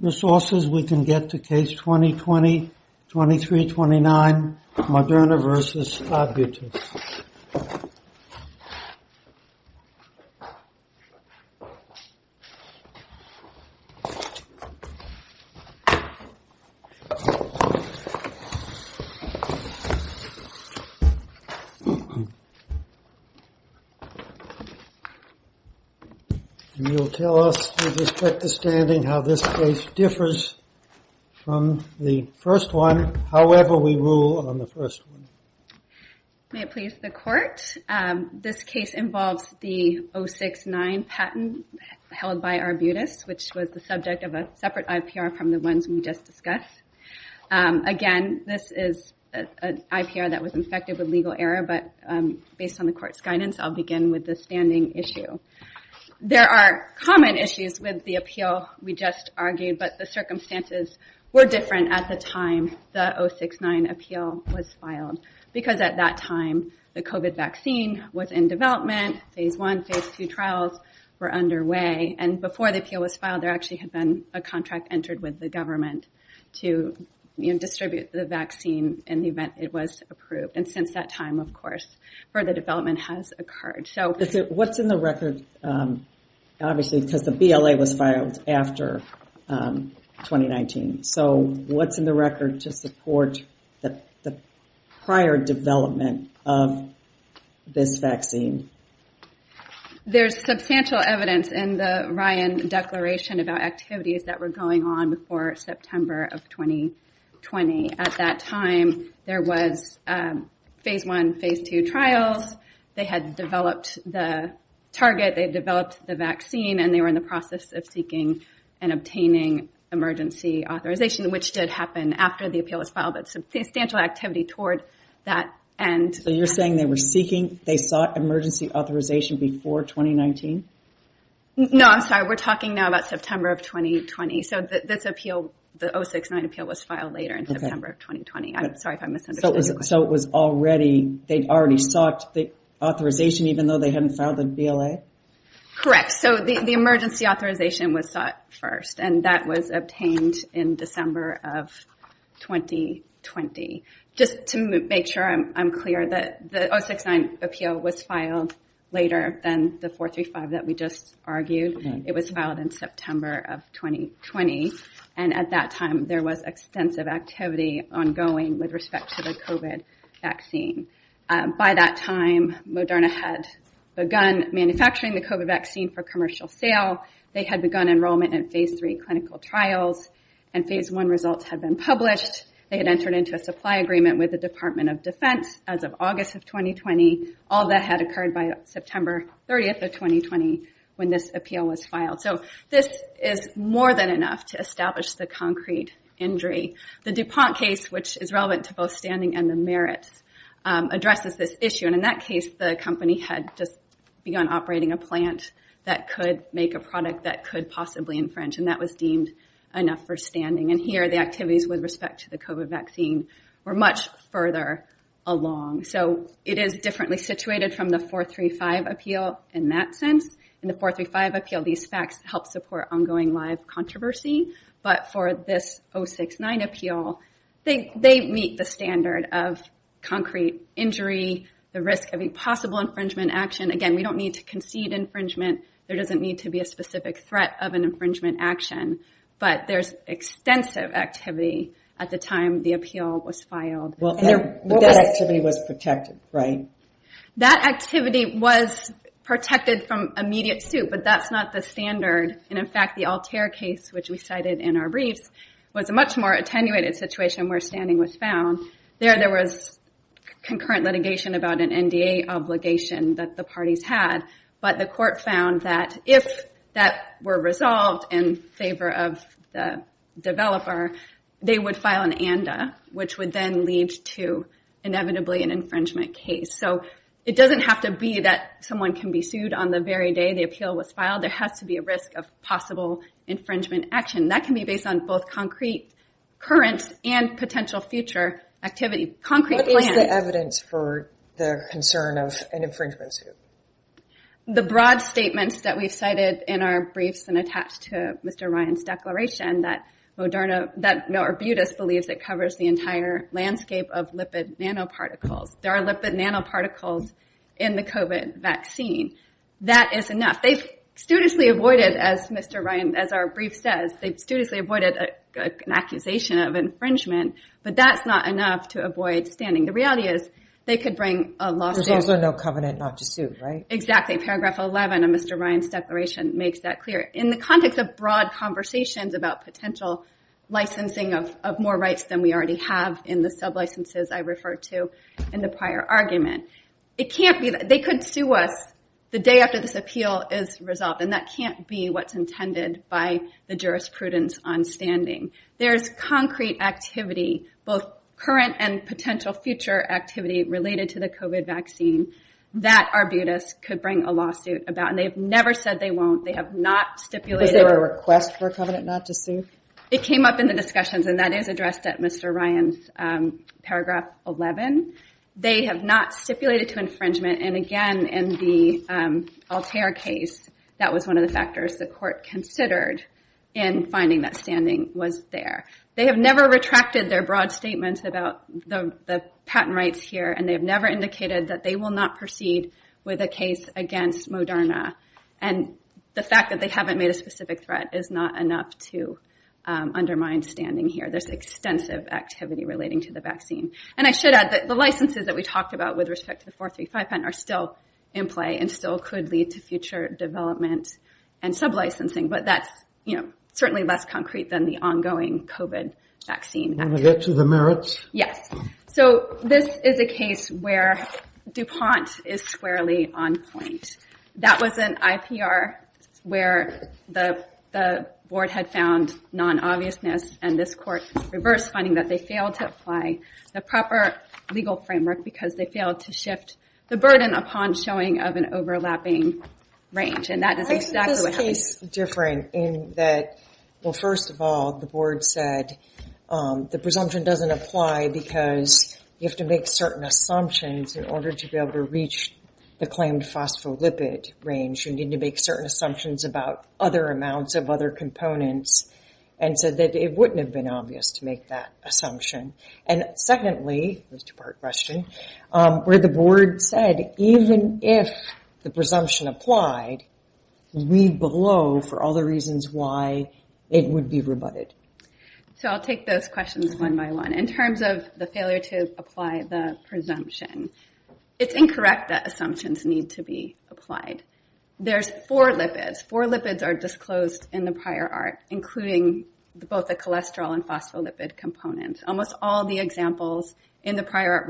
Resources we can get to case 20-20-23-29 Moderna v. Arbutus Thank you. You will tell us, with respect to standing, how this case differs from the first one, however we rule on the first one. May it please the Court, this case involves the 069 patent held by Arbutus, which was the subject of a separate IPR from the ones we just discussed. Again, this is an IPR that was infected with legal error, but based on the Court's guidance, I'll begin with the standing issue. There are common issues with the appeal we just argued, but the circumstances were different at the time the 069 appeal was filed, because at that time the COVID vaccine was in development, Phase I, Phase II trials were underway, and before the appeal was filed, there actually had been a contract entered with the government to distribute the vaccine in the event it was approved. And since that time, of course, further development has occurred. What's in the record, obviously, because the BLA was filed after 2019, so what's in the record to support the prior development of this vaccine? There's substantial evidence in the Ryan Declaration about activities that were going on before September of 2020. At that time, there was Phase I, Phase II trials, they had developed the target, they developed the vaccine, and they were in the process of seeking and obtaining emergency authorization, which did happen after the appeal was filed, but substantial activity toward that end. So you're saying they were seeking, they sought emergency authorization before 2019? No, I'm sorry, we're talking now about September of 2020. So this appeal, the 069 appeal, was filed later in September of 2020. I'm sorry if I misunderstood. So it was already, they'd already sought the authorization even though they hadn't filed the BLA? Correct. So the emergency authorization was sought first, and that was obtained in December of 2020. Just to make sure I'm clear that the 069 appeal was filed later than the 435 that we just And at that time, there was extensive activity ongoing with respect to the COVID vaccine. By that time, Moderna had begun manufacturing the COVID vaccine for commercial sale, they had begun enrollment in Phase III clinical trials, and Phase I results had been published. They had entered into a supply agreement with the Department of Defense as of August of 2020. All that had occurred by September 30th of 2020 when this appeal was filed. So this is more than enough to establish the concrete injury. The DuPont case, which is relevant to both standing and the merits, addresses this issue. And in that case, the company had just begun operating a plant that could make a product that could possibly infringe, and that was deemed enough for standing. And here, the activities with respect to the COVID vaccine were much further along. So it is differently situated from the 435 appeal in that sense. In the 435 appeal, these facts help support ongoing live controversy. But for this 069 appeal, they meet the standard of concrete injury, the risk of a possible infringement action. Again, we don't need to concede infringement. There doesn't need to be a specific threat of an infringement action. But there's extensive activity at the time the appeal was filed. And that activity was protected, right? That activity was protected from immediate suit, but that's not the standard. And in fact, the Altair case, which we cited in our briefs, was a much more attenuated situation where standing was found. There, there was concurrent litigation about an NDA obligation that the parties had. But the court found that if that were resolved in favor of the developer, they would file an ANDA, which would then lead to, inevitably, an infringement case. So it doesn't have to be that someone can be sued on the very day the appeal was filed. There has to be a risk of possible infringement action. That can be based on both concrete current and potential future activity. Concrete plans. What is the evidence for the concern of an infringement suit? The broad statements that we've cited in our briefs and attached to Mr. Ryan's declaration that Moderna, that Norbutis believes it covers the entire landscape of lipid nanoparticles. There are lipid nanoparticles in the COVID vaccine. That is enough. They've studiously avoided, as Mr. Ryan, as our brief says, they've studiously avoided an accusation of infringement, but that's not enough to avoid standing. The reality is they could bring a lawsuit. There's also no covenant not to sue, right? Exactly. Paragraph 11 of Mr. Ryan's declaration makes that clear. In the context of broad conversations about potential licensing of more rights than we have referred to in the prior argument. They could sue us the day after this appeal is resolved, and that can't be what's intended by the jurisprudence on standing. There's concrete activity, both current and potential future activity related to the COVID vaccine that Arbutus could bring a lawsuit about, and they've never said they won't. They have not stipulated- Was there a request for a covenant not to sue? It came up in the discussions, and that is addressed at Mr. Ryan's paragraph 11. They have not stipulated to infringement, and again, in the Altair case, that was one of the factors the court considered in finding that standing was there. They have never retracted their broad statement about the patent rights here, and they have never indicated that they will not proceed with a case against Moderna. The fact that they haven't made a specific threat is not enough to undermine standing here. There's extensive activity relating to the vaccine, and I should add that the licenses that we talked about with respect to the 435 patent are still in play and still could lead to future development and sub-licensing, but that's certainly less concrete than the ongoing COVID vaccine activity. Want to get to the merits? Yes. This is a case where DuPont is squarely on point. That was an IPR where the board had found non-obviousness, and this court reversed finding that they failed to apply the proper legal framework because they failed to shift the burden upon showing of an overlapping range, and that is exactly what happened. Why is this case different in that, well, first of all, the board said the presumption doesn't apply because you have to make certain assumptions in order to be able to reach the claimed phospholipid range. You need to make certain assumptions about other amounts of other components, and so that it wouldn't have been obvious to make that assumption. And secondly, this is a two-part question, where the board said even if the presumption applied, leave below for all the reasons why it would be rebutted. So I'll take those questions one by one. In terms of the failure to apply the presumption, it's incorrect that assumptions need to be applied. There's four lipids. Four lipids are disclosed in the prior art, including both the cholesterol and phospholipid components. Almost all the examples in the prior art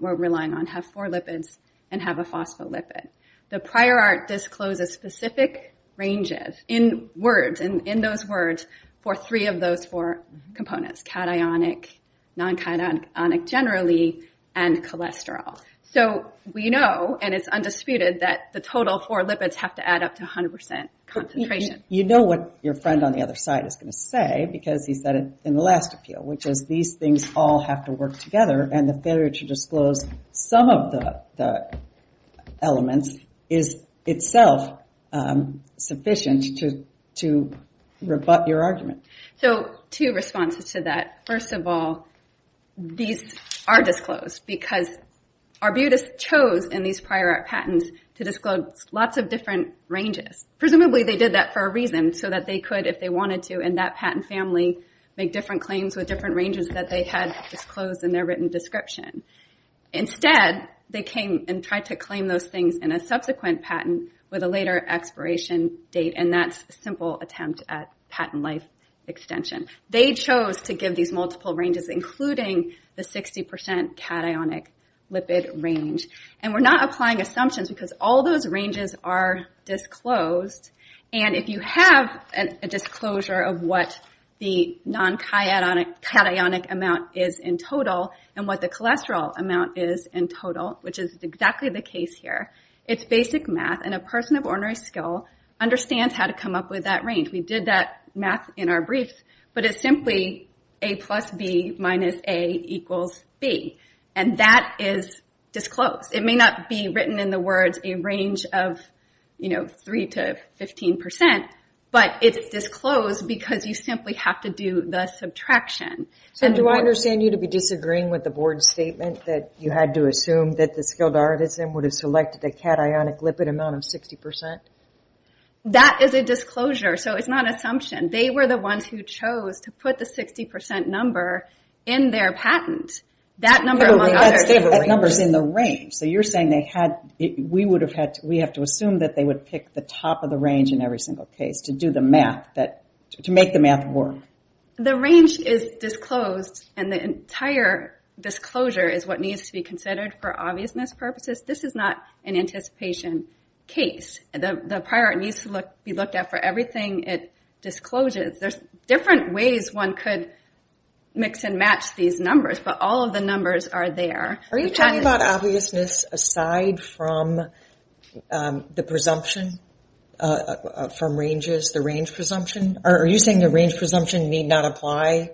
we're relying on have four lipids and have a phospholipid. The prior art discloses specific ranges in words, in those words, for three of those four components, cationic, non-cationic generally, and cholesterol. So we know, and it's undisputed, that the total four lipids have to add up to 100% concentration. You know what your friend on the other side is going to say, because he said it in the last appeal, which is these things all have to work together, and the failure to disclose some of the elements is itself sufficient to rebut your argument. So two responses to that. First of all, these are disclosed, because Arbutus chose in these prior art patents to disclose lots of different ranges. Presumably they did that for a reason, so that they could, if they wanted to in that patent family, make different claims with different ranges that they had disclosed in their written description. Instead, they came and tried to claim those things in a subsequent patent with a later expiration date, and that's a simple attempt at patent life extension. They chose to give these multiple ranges, including the 60% cationic lipid range. And we're not applying assumptions, because all those ranges are disclosed, and if you have a disclosure of what the non-cationic amount is in total, and what the cholesterol amount is in total, which is exactly the case here, it's basic math, and a person of ordinary skill understands how to come up with that range. We did that math in our brief, but it's simply A plus B minus A equals B. And that is disclosed. It may not be written in the words a range of, you know, 3 to 15%, but it's disclosed because you simply have to do the subtraction. And do I understand you to be disagreeing with the board's statement that you had to That is a disclosure, so it's not an assumption. They were the ones who chose to put the 60% number in their patent. That number, among others, is a range. So you're saying we have to assume that they would pick the top of the range in every single case to do the math, to make the math work. The range is disclosed, and the entire disclosure is what needs to be considered for obviousness purposes. This is not an anticipation case. The prior needs to be looked at for everything it discloses. There's different ways one could mix and match these numbers, but all of the numbers are there. Are you talking about obviousness aside from the presumption from ranges, the range presumption? Are you saying the range presumption need not apply?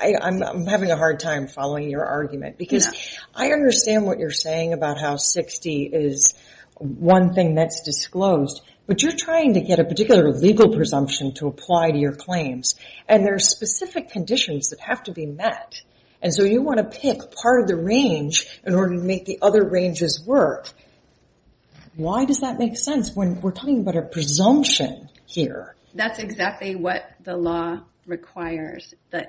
I'm having a hard time following your argument because I understand what you're saying about how 60 is one thing that's disclosed, but you're trying to get a particular legal presumption to apply to your claims, and there are specific conditions that have to be met. And so you want to pick part of the range in order to make the other ranges work. Why does that make sense when we're talking about a presumption here? That's exactly what the law requires. I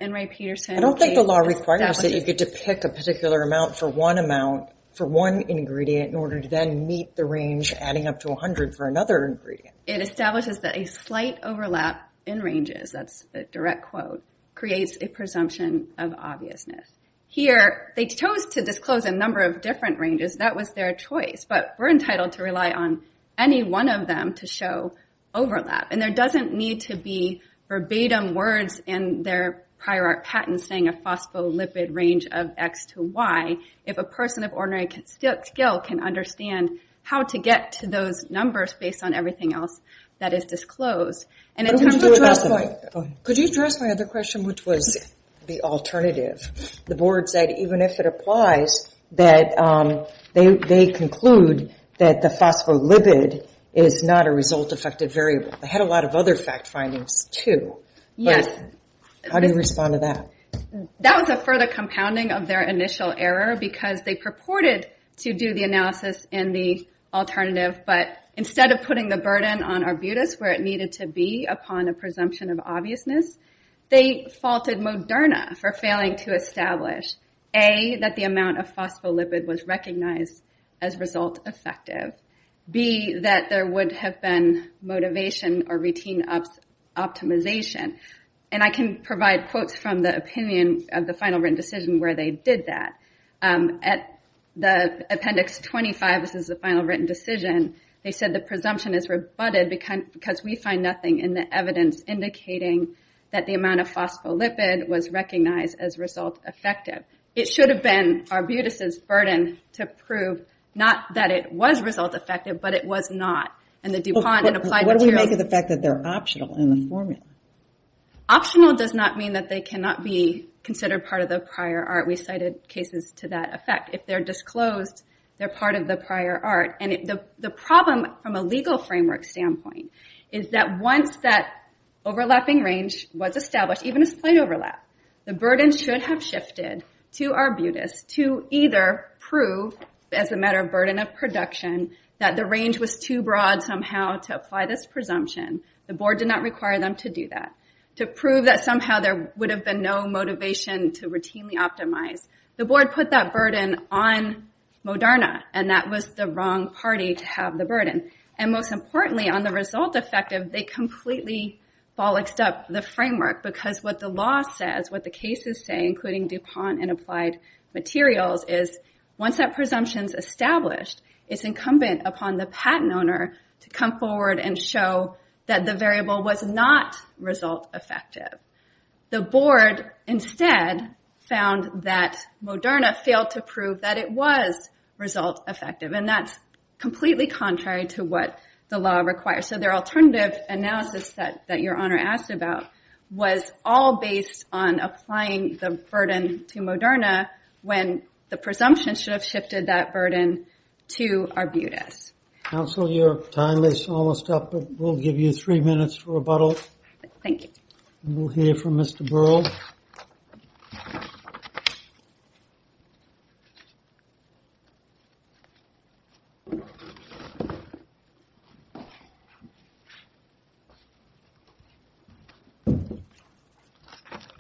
don't think the law requires that you get to pick a particular amount for one amount for one ingredient in order to then meet the range adding up to 100 for another ingredient. It establishes that a slight overlap in ranges, that's the direct quote, creates a presumption of obviousness. Here they chose to disclose a number of different ranges. That was their choice, but we're entitled to rely on any one of them to show overlap, and there doesn't need to be verbatim words in their prior art patent saying a phospholipid range of X to Y if a person of ordinary skill can understand how to get to those numbers based on everything else that is disclosed. Could you address my other question, which was the alternative? The board said even if it applies, that they conclude that the phospholipid is not a result-effective variable. They had a lot of other fact findings, too. How do you respond to that? That was a further compounding of their initial error because they purported to do the analysis in the alternative, but instead of putting the burden on Arbutus where it needed to be upon a presumption of obviousness, they faulted Moderna for failing to establish A, that the amount of phospholipid was recognized as result-effective, B, that there would have been motivation or routine optimization. And I can provide quotes from the opinion of the final written decision where they did that. At appendix 25, this is the final written decision, they said the presumption is rebutted because we find nothing in the evidence indicating that the amount of phospholipid was recognized as result-effective. It should have been Arbutus' burden to prove not that it was result-effective, but it was not. What do we make of the fact that they're optional in the formula? Optional does not mean that they cannot be considered part of the prior art. We cited cases to that effect. If they're disclosed, they're part of the prior art. And the problem from a legal framework standpoint is that once that overlapping range was established, even as plain overlap, the burden should have shifted to Arbutus to either prove as a matter of burden of production that the range was too broad somehow to apply this presumption. The board did not require them to do that. To prove that somehow there would have been no motivation to routinely optimize, the board put that burden on Moderna, and that was the wrong party to have the burden. And most importantly, on the result-effective, they completely bollocked up the framework because what the law says, what the cases say, including DuPont and Applied Materials, is once that presumption's established, it's incumbent upon the patent owner to come forward and show that the variable was not result-effective. The board instead found that Moderna failed to prove that it was result-effective, and that's completely contrary to what the law requires. So their alternative analysis that your honor asked about was all based on applying the burden to Moderna when the presumption should have shifted that burden to Arbutus. Counsel, your time is almost up, but we'll give you three minutes for rebuttal. Thank you. We'll hear from Mr. Burrell.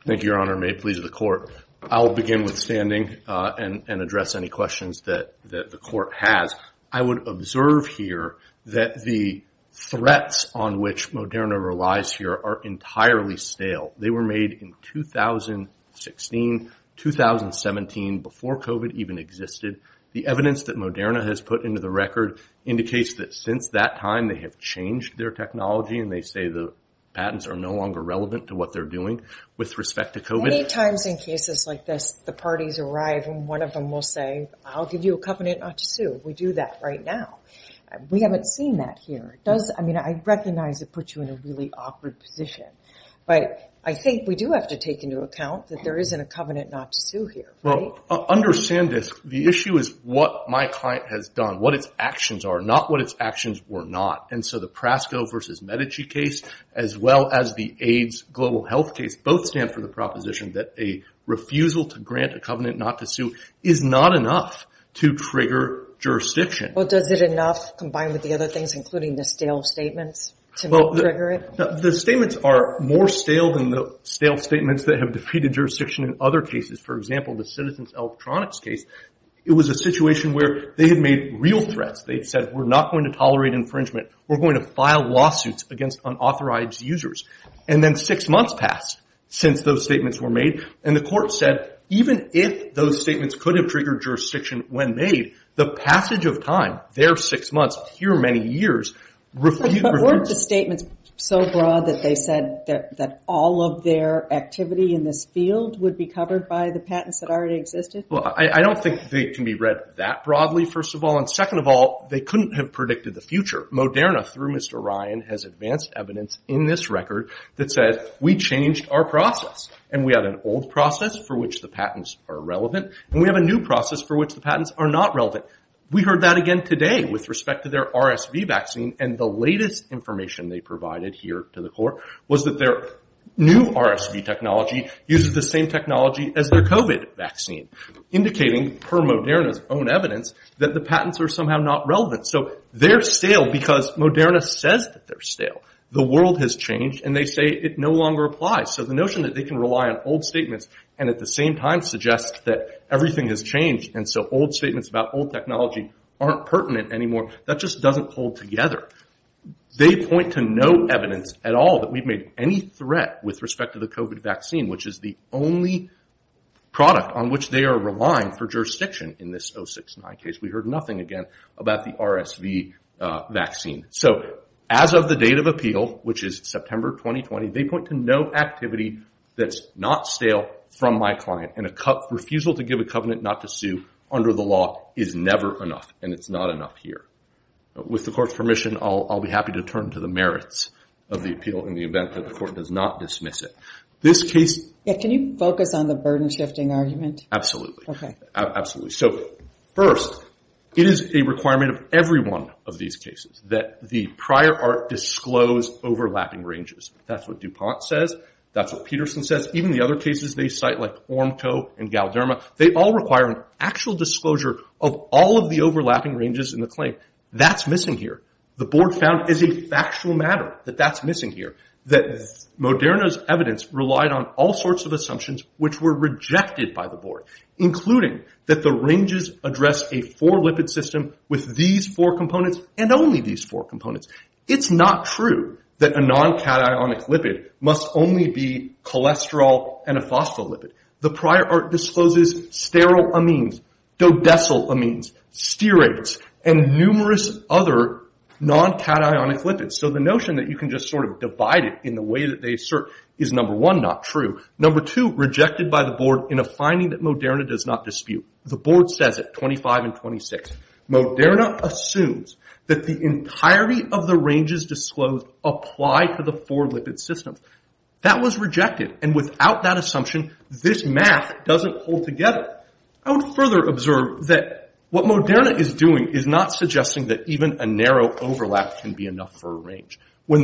Thank you, Your Honor. May it please the Court. I'll begin with standing and address any questions that the Court has. I would observe here that the threats on which Moderna relies here are entirely stale. They were made in 2016, 2017, before COVID even existed. The evidence that Moderna has put into the record indicates that since that time they have changed their technology, and they say the patents are no longer relevant to what they're doing with respect to COVID. Many times in cases like this, the parties arrive and one of them will say, I'll give you a covenant not to sue. We do that right now. We haven't seen that here. I mean, I recognize it puts you in a really awkward position, but I think we do have to take into account that there isn't a covenant not to sue here. Well, understand this. The issue is what my client has done, what its actions are, not what its actions were not. And so the Prasco versus Medici case, as well as the AIDS global health case, both stand for the proposition that a refusal to grant a covenant not to sue is not enough to trigger jurisdiction. Well, does it enough, combined with the other things, including the stale statements, to trigger it? The statements are more stale than the stale statements that have defeated jurisdiction in other cases. For example, the Citizens Electronics case, it was a situation where they had made real threats. They said, we're not going to tolerate infringement. We're going to file lawsuits against unauthorized users. And then six months passed since those statements were made, and the court said even if those statements could have triggered jurisdiction when made, the passage of time, their six months, your many years, refused. But weren't the statements so broad that they said that all of their activity in this field would be covered by the patents that already existed? Well, I don't think they can be read that broadly, first of all. And second of all, they couldn't have predicted the future. Moderna, through Mr. Ryan, has advanced evidence in this record that says we changed our process, and we have an old process for which the patents are relevant, and we have a new process for which the patents are not relevant. We heard that again today with respect to their RSV vaccine, and the latest information they provided here to the court was that their new RSV technology uses the same technology as their COVID vaccine, indicating, per Moderna's own evidence, that the patents are somehow not relevant. So they're stale because Moderna says that they're stale. The world has changed, and they say it no longer applies. So the notion that they can rely on old statements, and at the same time suggest that everything has changed, and so old statements about old technology aren't pertinent anymore, that just doesn't hold together. They point to no evidence at all that we've made any threat with respect to the COVID vaccine, which is the only product on which they are relying for jurisdiction in this 069 case. We heard nothing again about the RSV vaccine. So as of the date of appeal, which is September 2020, they point to no activity that's not stale from my client, and a refusal to give a covenant not to sue under the law is never enough, and it's not enough here. With the court's permission, I'll be happy to turn to the merits of the appeal in the event that the court does not dismiss it. Can you focus on the burden-shifting argument? Absolutely. So first, it is a requirement of every one of these cases that the prior art disclose overlapping ranges. That's what DuPont says. That's what Peterson says. Even the other cases they cite, like Ormco and Galderma, they all require an actual disclosure of all of the overlapping ranges in the claim. That's missing here. The board found as a factual matter that that's missing here, that Moderna's evidence relied on all sorts of assumptions which were rejected by the board, including that the ranges address a four-lipid system with these four components and only these four components. It's not true that a non-cationic lipid must only be cholesterol and a phospholipid. The prior art discloses sterile amines, dodecyl amines, steroids, and numerous other non-cationic lipids. So the notion that you can just sort of divide it in the way that they assert is, number one, not true. Number two, rejected by the board in a finding that Moderna does not dispute. The board says it, 25 and 26. Moderna assumes that the entirety of the ranges disclosed apply to the four-lipid system. That was rejected, and without that assumption, this math doesn't hold together. I would further observe that what Moderna is doing is not suggesting When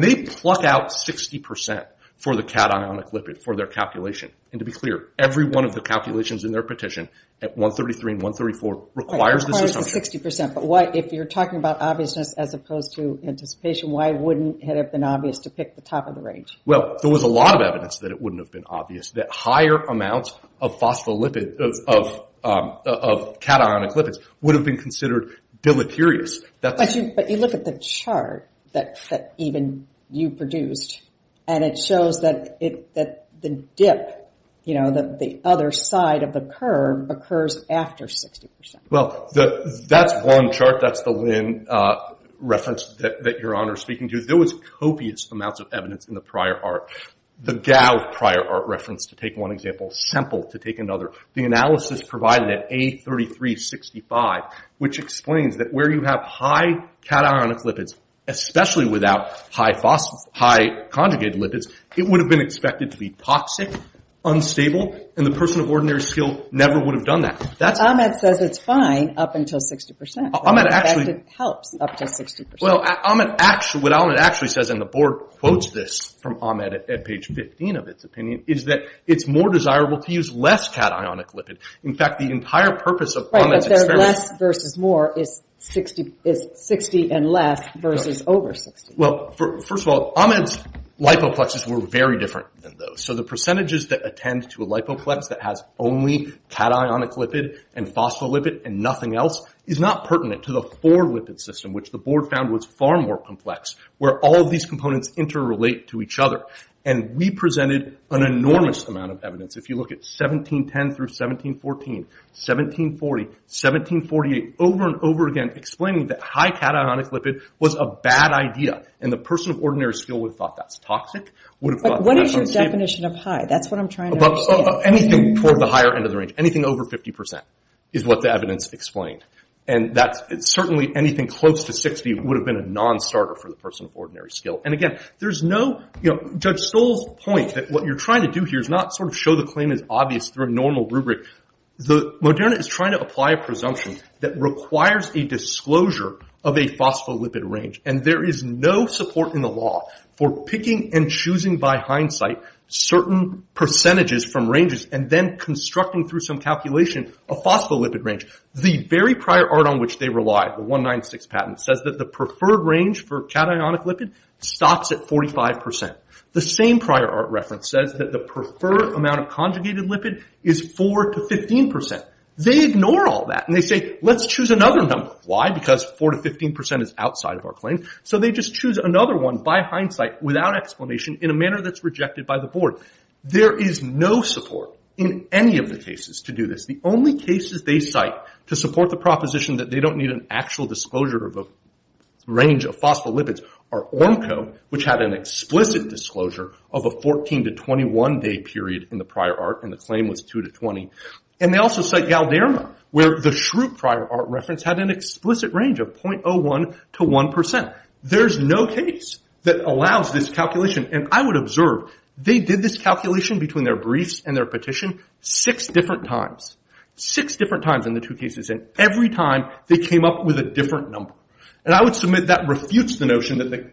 they pluck out 60% for the cationic lipid for their calculation, and to be clear, every one of the calculations in their petition at 133 and 134 requires this assumption. But if you're talking about obviousness as opposed to anticipation, why wouldn't it have been obvious to pick the top of the range? Well, there was a lot of evidence that it wouldn't have been obvious, that higher amounts of phospholipids, of cationic lipids, would have been considered deleterious. But you look at the chart that even you produced, and it shows that the dip, the other side of the curve, occurs after 60%. Well, that's one chart. That's the Lin reference that Your Honor is speaking to. There was copious amounts of evidence in the prior art. The Gao prior art reference, to take one example, Semple, to take another. The analysis provided at A3365, which explains that where you have high cationic lipids, especially without high conjugated lipids, it would have been expected to be toxic, unstable, and the person of ordinary skill never would have done that. Ahmed says it's fine up until 60%. Ahmed actually... It helps up to 60%. Well, what Ahmed actually says, and the Board quotes this from Ahmed at page 15 of its opinion, is that it's more desirable to use less cationic lipids. In fact, the entire purpose of Ahmed's experiment... Right, but they're less versus more is 60 and less versus over 60. Well, first of all, Ahmed's lipoplexes were very different than those. So the percentages that attend to a lipoplex that has only cationic lipid and phospholipid and nothing else is not pertinent to the 4-lipid system, which the Board found was far more complex, where all of these components interrelate to each other. And we presented an enormous amount of evidence. If you look at 1710 through 1714, 1740, 1748, over and over again explaining that high cationic lipid was a bad idea and the person of ordinary skill would have thought that's toxic. But what is your definition of high? That's what I'm trying to understand. Anything for the higher end of the range. Anything over 50% is what the evidence explained. And certainly anything close to 60 would have been a nonstarter for the person of ordinary skill. And again, Judge Stoll's point that what you're trying to do here is not sort of show the claim is obvious through a normal rubric. Moderna is trying to apply a presumption that requires a disclosure of a phospholipid range. And there is no support in the law for picking and choosing by hindsight certain percentages from ranges and then constructing through some calculation a phospholipid range. The very prior art on which they relied, the 196 patent, says that the preferred range for cationic lipid stops at 45%. The same prior art reference says that the preferred amount of conjugated lipid is 4 to 15%. They ignore all that and they say let's choose another number. Why? Because 4 to 15% is outside of our claim. So they just choose another one by hindsight without explanation in a manner that's rejected by the board. There is no support in any of the cases to do this. The only cases they cite to support the proposition that they don't need an actual disclosure of a range of phospholipids are Ornco, which had an explicit disclosure of a 14 to 21 day period in the prior art and the claim was 2 to 20. And they also cite Galderma, where the Schrute prior art reference had an explicit range of 0.01 to 1%. There's no case that allows this calculation. And I would observe they did this calculation between their briefs and their petition six different times. Six different times in the two cases. And every time they came up with a different number. And I would submit that refutes the notion that the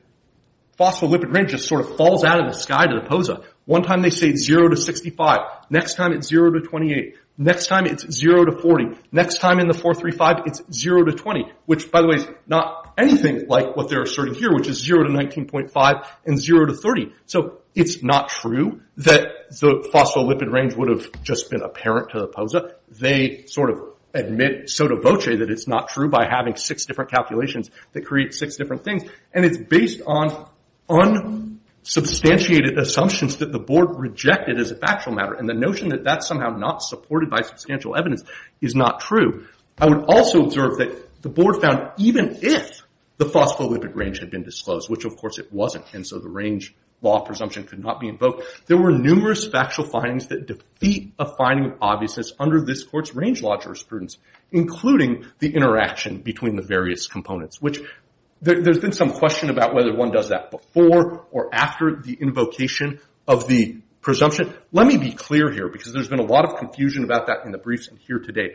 phospholipid range just sort of falls out of the sky to the POSA. One time they say 0 to 65. Next time it's 0 to 28. Next time it's 0 to 40. Next time in the 435 it's 0 to 20, which, by the way, is not anything like what they're asserting here, which is 0 to 19.5 and 0 to 30. So it's not true that the phospholipid range would have just been apparent to the POSA. They sort of admit sotto voce that it's not true by having six different calculations that create six different things. And it's based on unsubstantiated assumptions that the board rejected as a factual matter. And the notion that that's somehow not supported by substantial evidence is not true. I would also observe that the board found even if the phospholipid range had been disclosed, which, of course, it wasn't, and so the range law presumption could not be invoked, there were numerous factual findings that defeat a finding of obviousness under this court's range law jurisprudence, including the interaction between the various components, which there's been some question about whether one does that before or after the invocation of the presumption. Let me be clear here, because there's been a lot of confusion about that in the briefs here today.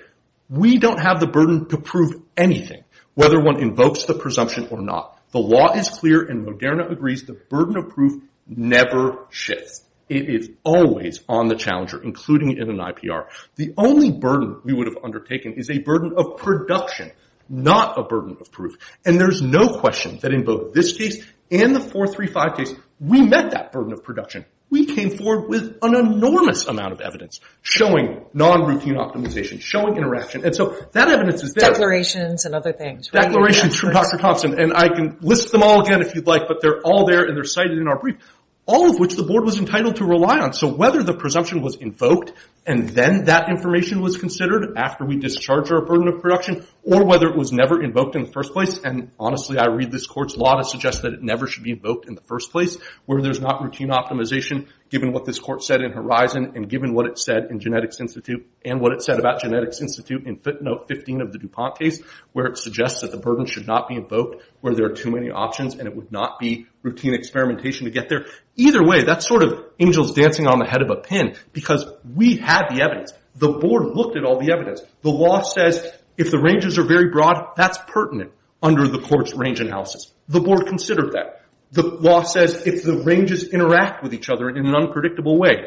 We don't have the burden to prove anything, whether one invokes the presumption or not. The law is clear, and Moderna agrees the burden of proof never shifts. It is always on the challenger, including in an IPR. The only burden we would have undertaken is a burden of production, not a burden of proof. And there's no question that in both this case and the 435 case, we met that burden of production. We came forward with an enormous amount of evidence showing non-routine optimization, showing interaction, and so that evidence is there. Declarations from Dr. Thompson, and I can list them all again if you'd like, but they're all there and they're cited in our brief, all of which the board was entitled to rely on. So whether the presumption was invoked, and then that information was considered after we discharged our burden of production, or whether it was never invoked in the first place, and honestly I read this court's law to suggest that it never should be invoked in the first place, where there's not routine optimization, given what this court said in Horizon, and given what it said in Genetics Institute, and what it said about Genetics Institute in footnote 15 of the DuPont case, where it suggests that the burden should not be invoked, where there are too many options and it would not be routine experimentation to get there. Either way, that's sort of angels dancing on the head of a pin, because we had the evidence. The board looked at all the evidence. The law says if the ranges are very broad, that's pertinent under the court's range analysis. The board considered that. The law says if the ranges interact with each other in an unpredictable way,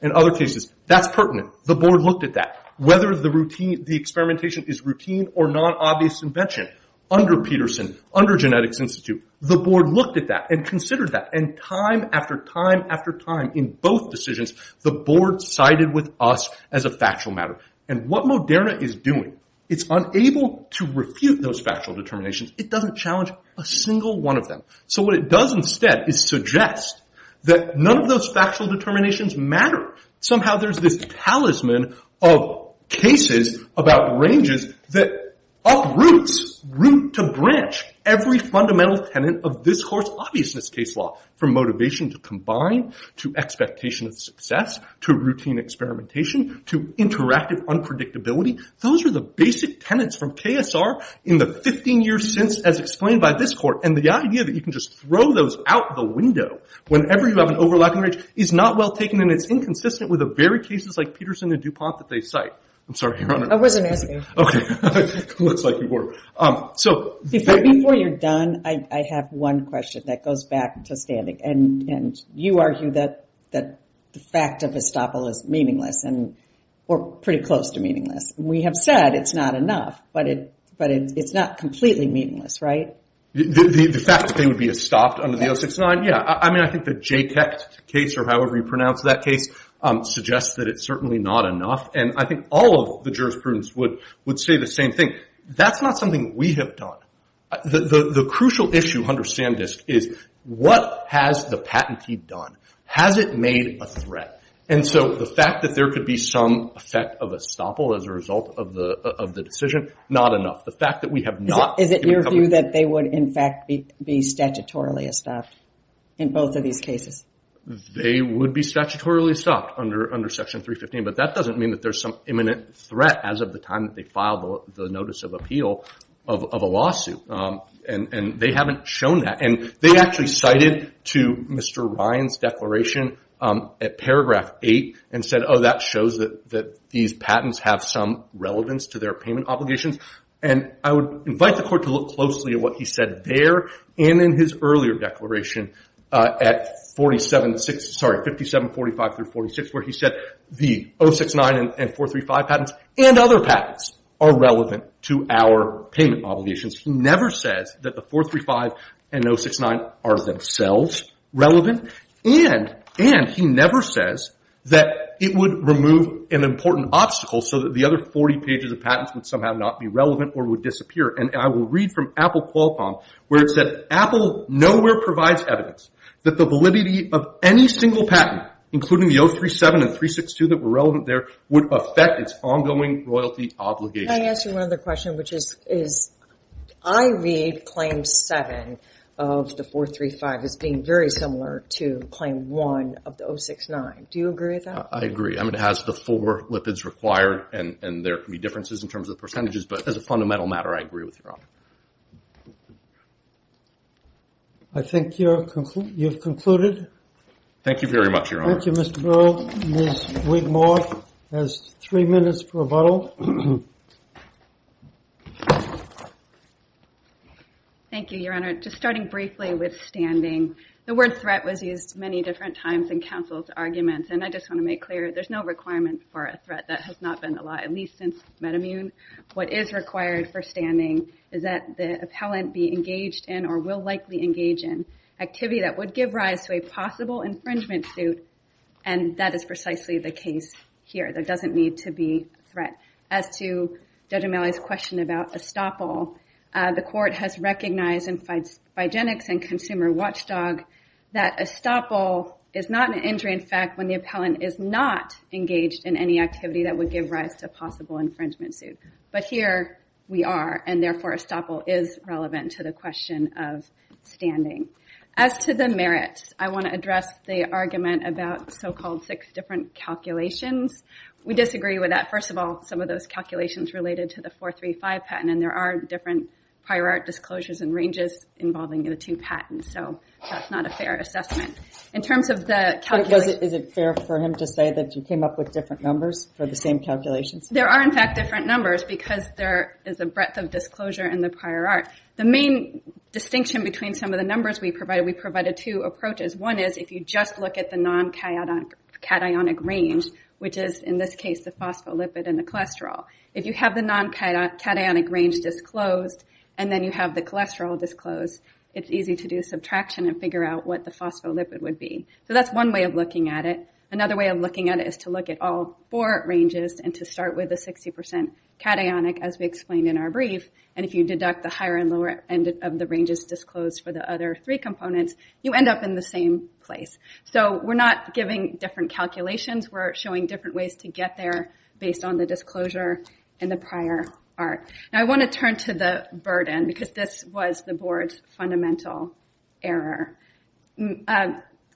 in other cases, that's pertinent. The board looked at that. Whether the experimentation is routine or non-obvious invention, under Peterson, under Genetics Institute, the board looked at that and considered that, and time after time after time in both decisions, the board sided with us as a factual matter. And what Moderna is doing, it's unable to refute those factual determinations. It doesn't challenge a single one of them. So what it does instead is suggest that none of those factual determinations matter. Somehow there's this talisman of cases about ranges that uproots, root to branch, every fundamental tenet of this court's obviousness case law, from motivation to combine, to expectation of success, to routine experimentation, to interactive unpredictability. Those are the basic tenets from KSR in the 15 years since, as explained by this court. And the idea that you can just throw those out the window whenever you have an overlapping range is not well taken, and it's inconsistent with the very cases like Peterson and DuPont that they cite. I'm sorry, Your Honor. I wasn't asking. Okay. Looks like you were. Before you're done, I have one question that goes back to standing. And you argue that the fact of estoppel is meaningless, or pretty close to meaningless. We have said it's not enough, but it's not completely meaningless, right? The fact that they would be estopped under the 069, yeah. I mean, I think the JTET case, or however you pronounce that case, suggests that it's certainly not enough. And I think all of the jurisprudence would say the same thing. That's not something we have done. The crucial issue, Hunter Sandisk, is what has the patentee done? Has it made a threat? And so the fact that there could be some effect of estoppel as a result of the decision, not enough. The fact that we have not. Is it your view that they would, in fact, be statutorily estopped in both of these cases? They would be statutorily estopped under Section 315, but that doesn't mean that there's some imminent threat as of the time that they filed the notice of appeal of a lawsuit. And they haven't shown that. And they actually cited to Mr. Ryan's declaration at paragraph 8 and said, oh, that shows that these patents have some relevance to their payment obligations. And I would invite the court to look closely at what he said there and in his earlier declaration at 5745 through 46, where he said the 069 and 435 patents and other patents are relevant to our payment obligations. He never says that the 435 and 069 are themselves relevant. And he never says that it would remove an important obstacle so that the other 40 pages of patents would somehow not be relevant or would disappear. And I will read from Apple Qualcomm where it said, Apple nowhere provides evidence that the validity of any single patent, including the 037 and 362 that were relevant there, would affect its ongoing royalty obligation. Can I ask you one other question, which is I read Claim 7 of the 435 as being very similar to Claim 1 of the 069. Do you agree with that? I agree. I mean, it has the four lipids required, and there can be differences in terms of percentages. But as a fundamental matter, I agree with you, Your Honor. I think you've concluded. Thank you very much, Your Honor. Thank you, Mr. Burrell. Ms. Wigmore has three minutes for rebuttal. Thank you, Your Honor. Just starting briefly with standing, the word threat was used many different times in counsel's arguments, and I just want to make clear there's no requirement for a threat that has not been allowed, at least since Metamune. What is required for standing is that the appellant be engaged in or will likely engage in activity that would give rise to a possible infringement suit, and that is precisely the case here. There doesn't need to be a threat. As to Judge O'Malley's question about estoppel, the court has recognized in Phygenics and Consumer Watchdog that estoppel is not an injury, in fact, when the appellant is not engaged in any activity that would give rise to a possible infringement suit. But here we are, and therefore estoppel is relevant to the question of standing. As to the merits, I want to address the argument about so-called six different calculations. We disagree with that. First of all, some of those calculations related to the 435 patent, and there are different prior art disclosures and ranges involving the two patents, so that's not a fair assessment. In terms of the calculation... Is it fair for him to say that you came up with different numbers for the same calculations? There are, in fact, different numbers because there is a breadth of disclosure in the prior art. The main distinction between some of the numbers we provided, we provided two approaches. One is if you just look at the non-cationic range, which is in this case the phospholipid and the cholesterol. If you have the non-cationic range disclosed, and then you have the cholesterol disclosed, it's easy to do subtraction and figure out what the phospholipid would be. So that's one way of looking at it. Another way of looking at it is to look at all four ranges and to start with the 60% cationic, as we explained in our brief, and if you deduct the higher and lower end of the ranges disclosed for the other three components, you end up in the same place. So we're not giving different calculations. We're showing different ways to get there based on the disclosure and the prior art. Now, I want to turn to the burden because this was the board's fundamental error.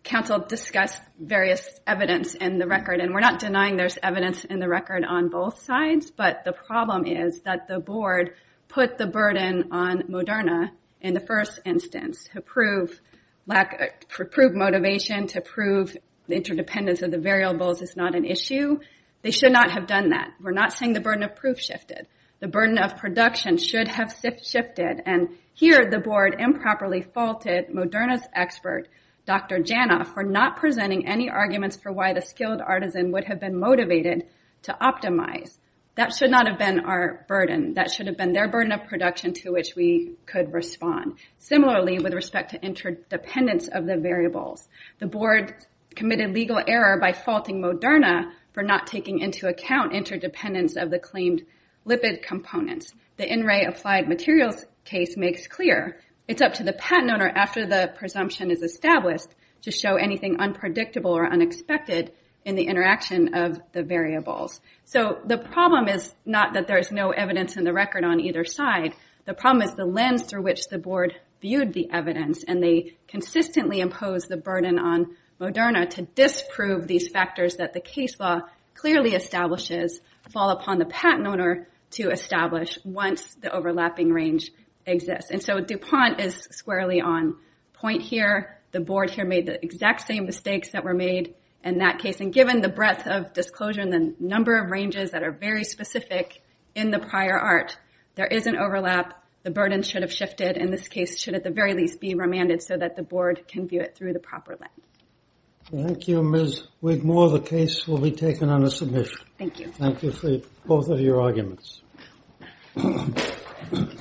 Council discussed various evidence in the record, and we're not denying there's evidence in the record on both sides, but the problem is that the board put the burden on Moderna in the first instance to prove motivation, to prove the interdependence of the variables is not an issue. They should not have done that. We're not saying the burden of proof shifted. The burden of production should have shifted, and here the board improperly faulted Moderna's expert, Dr. Janov, for not presenting any arguments for why the skilled artisan would have been motivated to optimize. That should not have been our burden. That should have been their burden of production to which we could respond. Similarly, with respect to interdependence of the variables, the board committed legal error by faulting Moderna for not taking into account interdependence of the claimed lipid components. The in-ray applied materials case makes clear it's up to the patent owner after the presumption is established to show anything unpredictable or unexpected in the interaction of the variables. So the problem is not that there's no evidence in the record on either side. The problem is the lens through which the board viewed the evidence, and they consistently imposed the burden on Moderna to disprove these factors that the case law clearly establishes fall upon the patent owner to establish once the overlapping range exists. And so DuPont is squarely on point here. The board here made the exact same mistakes that were made in that case, and given the breadth of disclosure and the number of ranges that are very specific in the prior art, there is an overlap. The burden should have shifted, and this case should at the very least be remanded so that the board can view it through the proper lens. Thank you, Ms. Wigmore. The case will be taken on a submission. Thank you. Thank you for both of your arguments.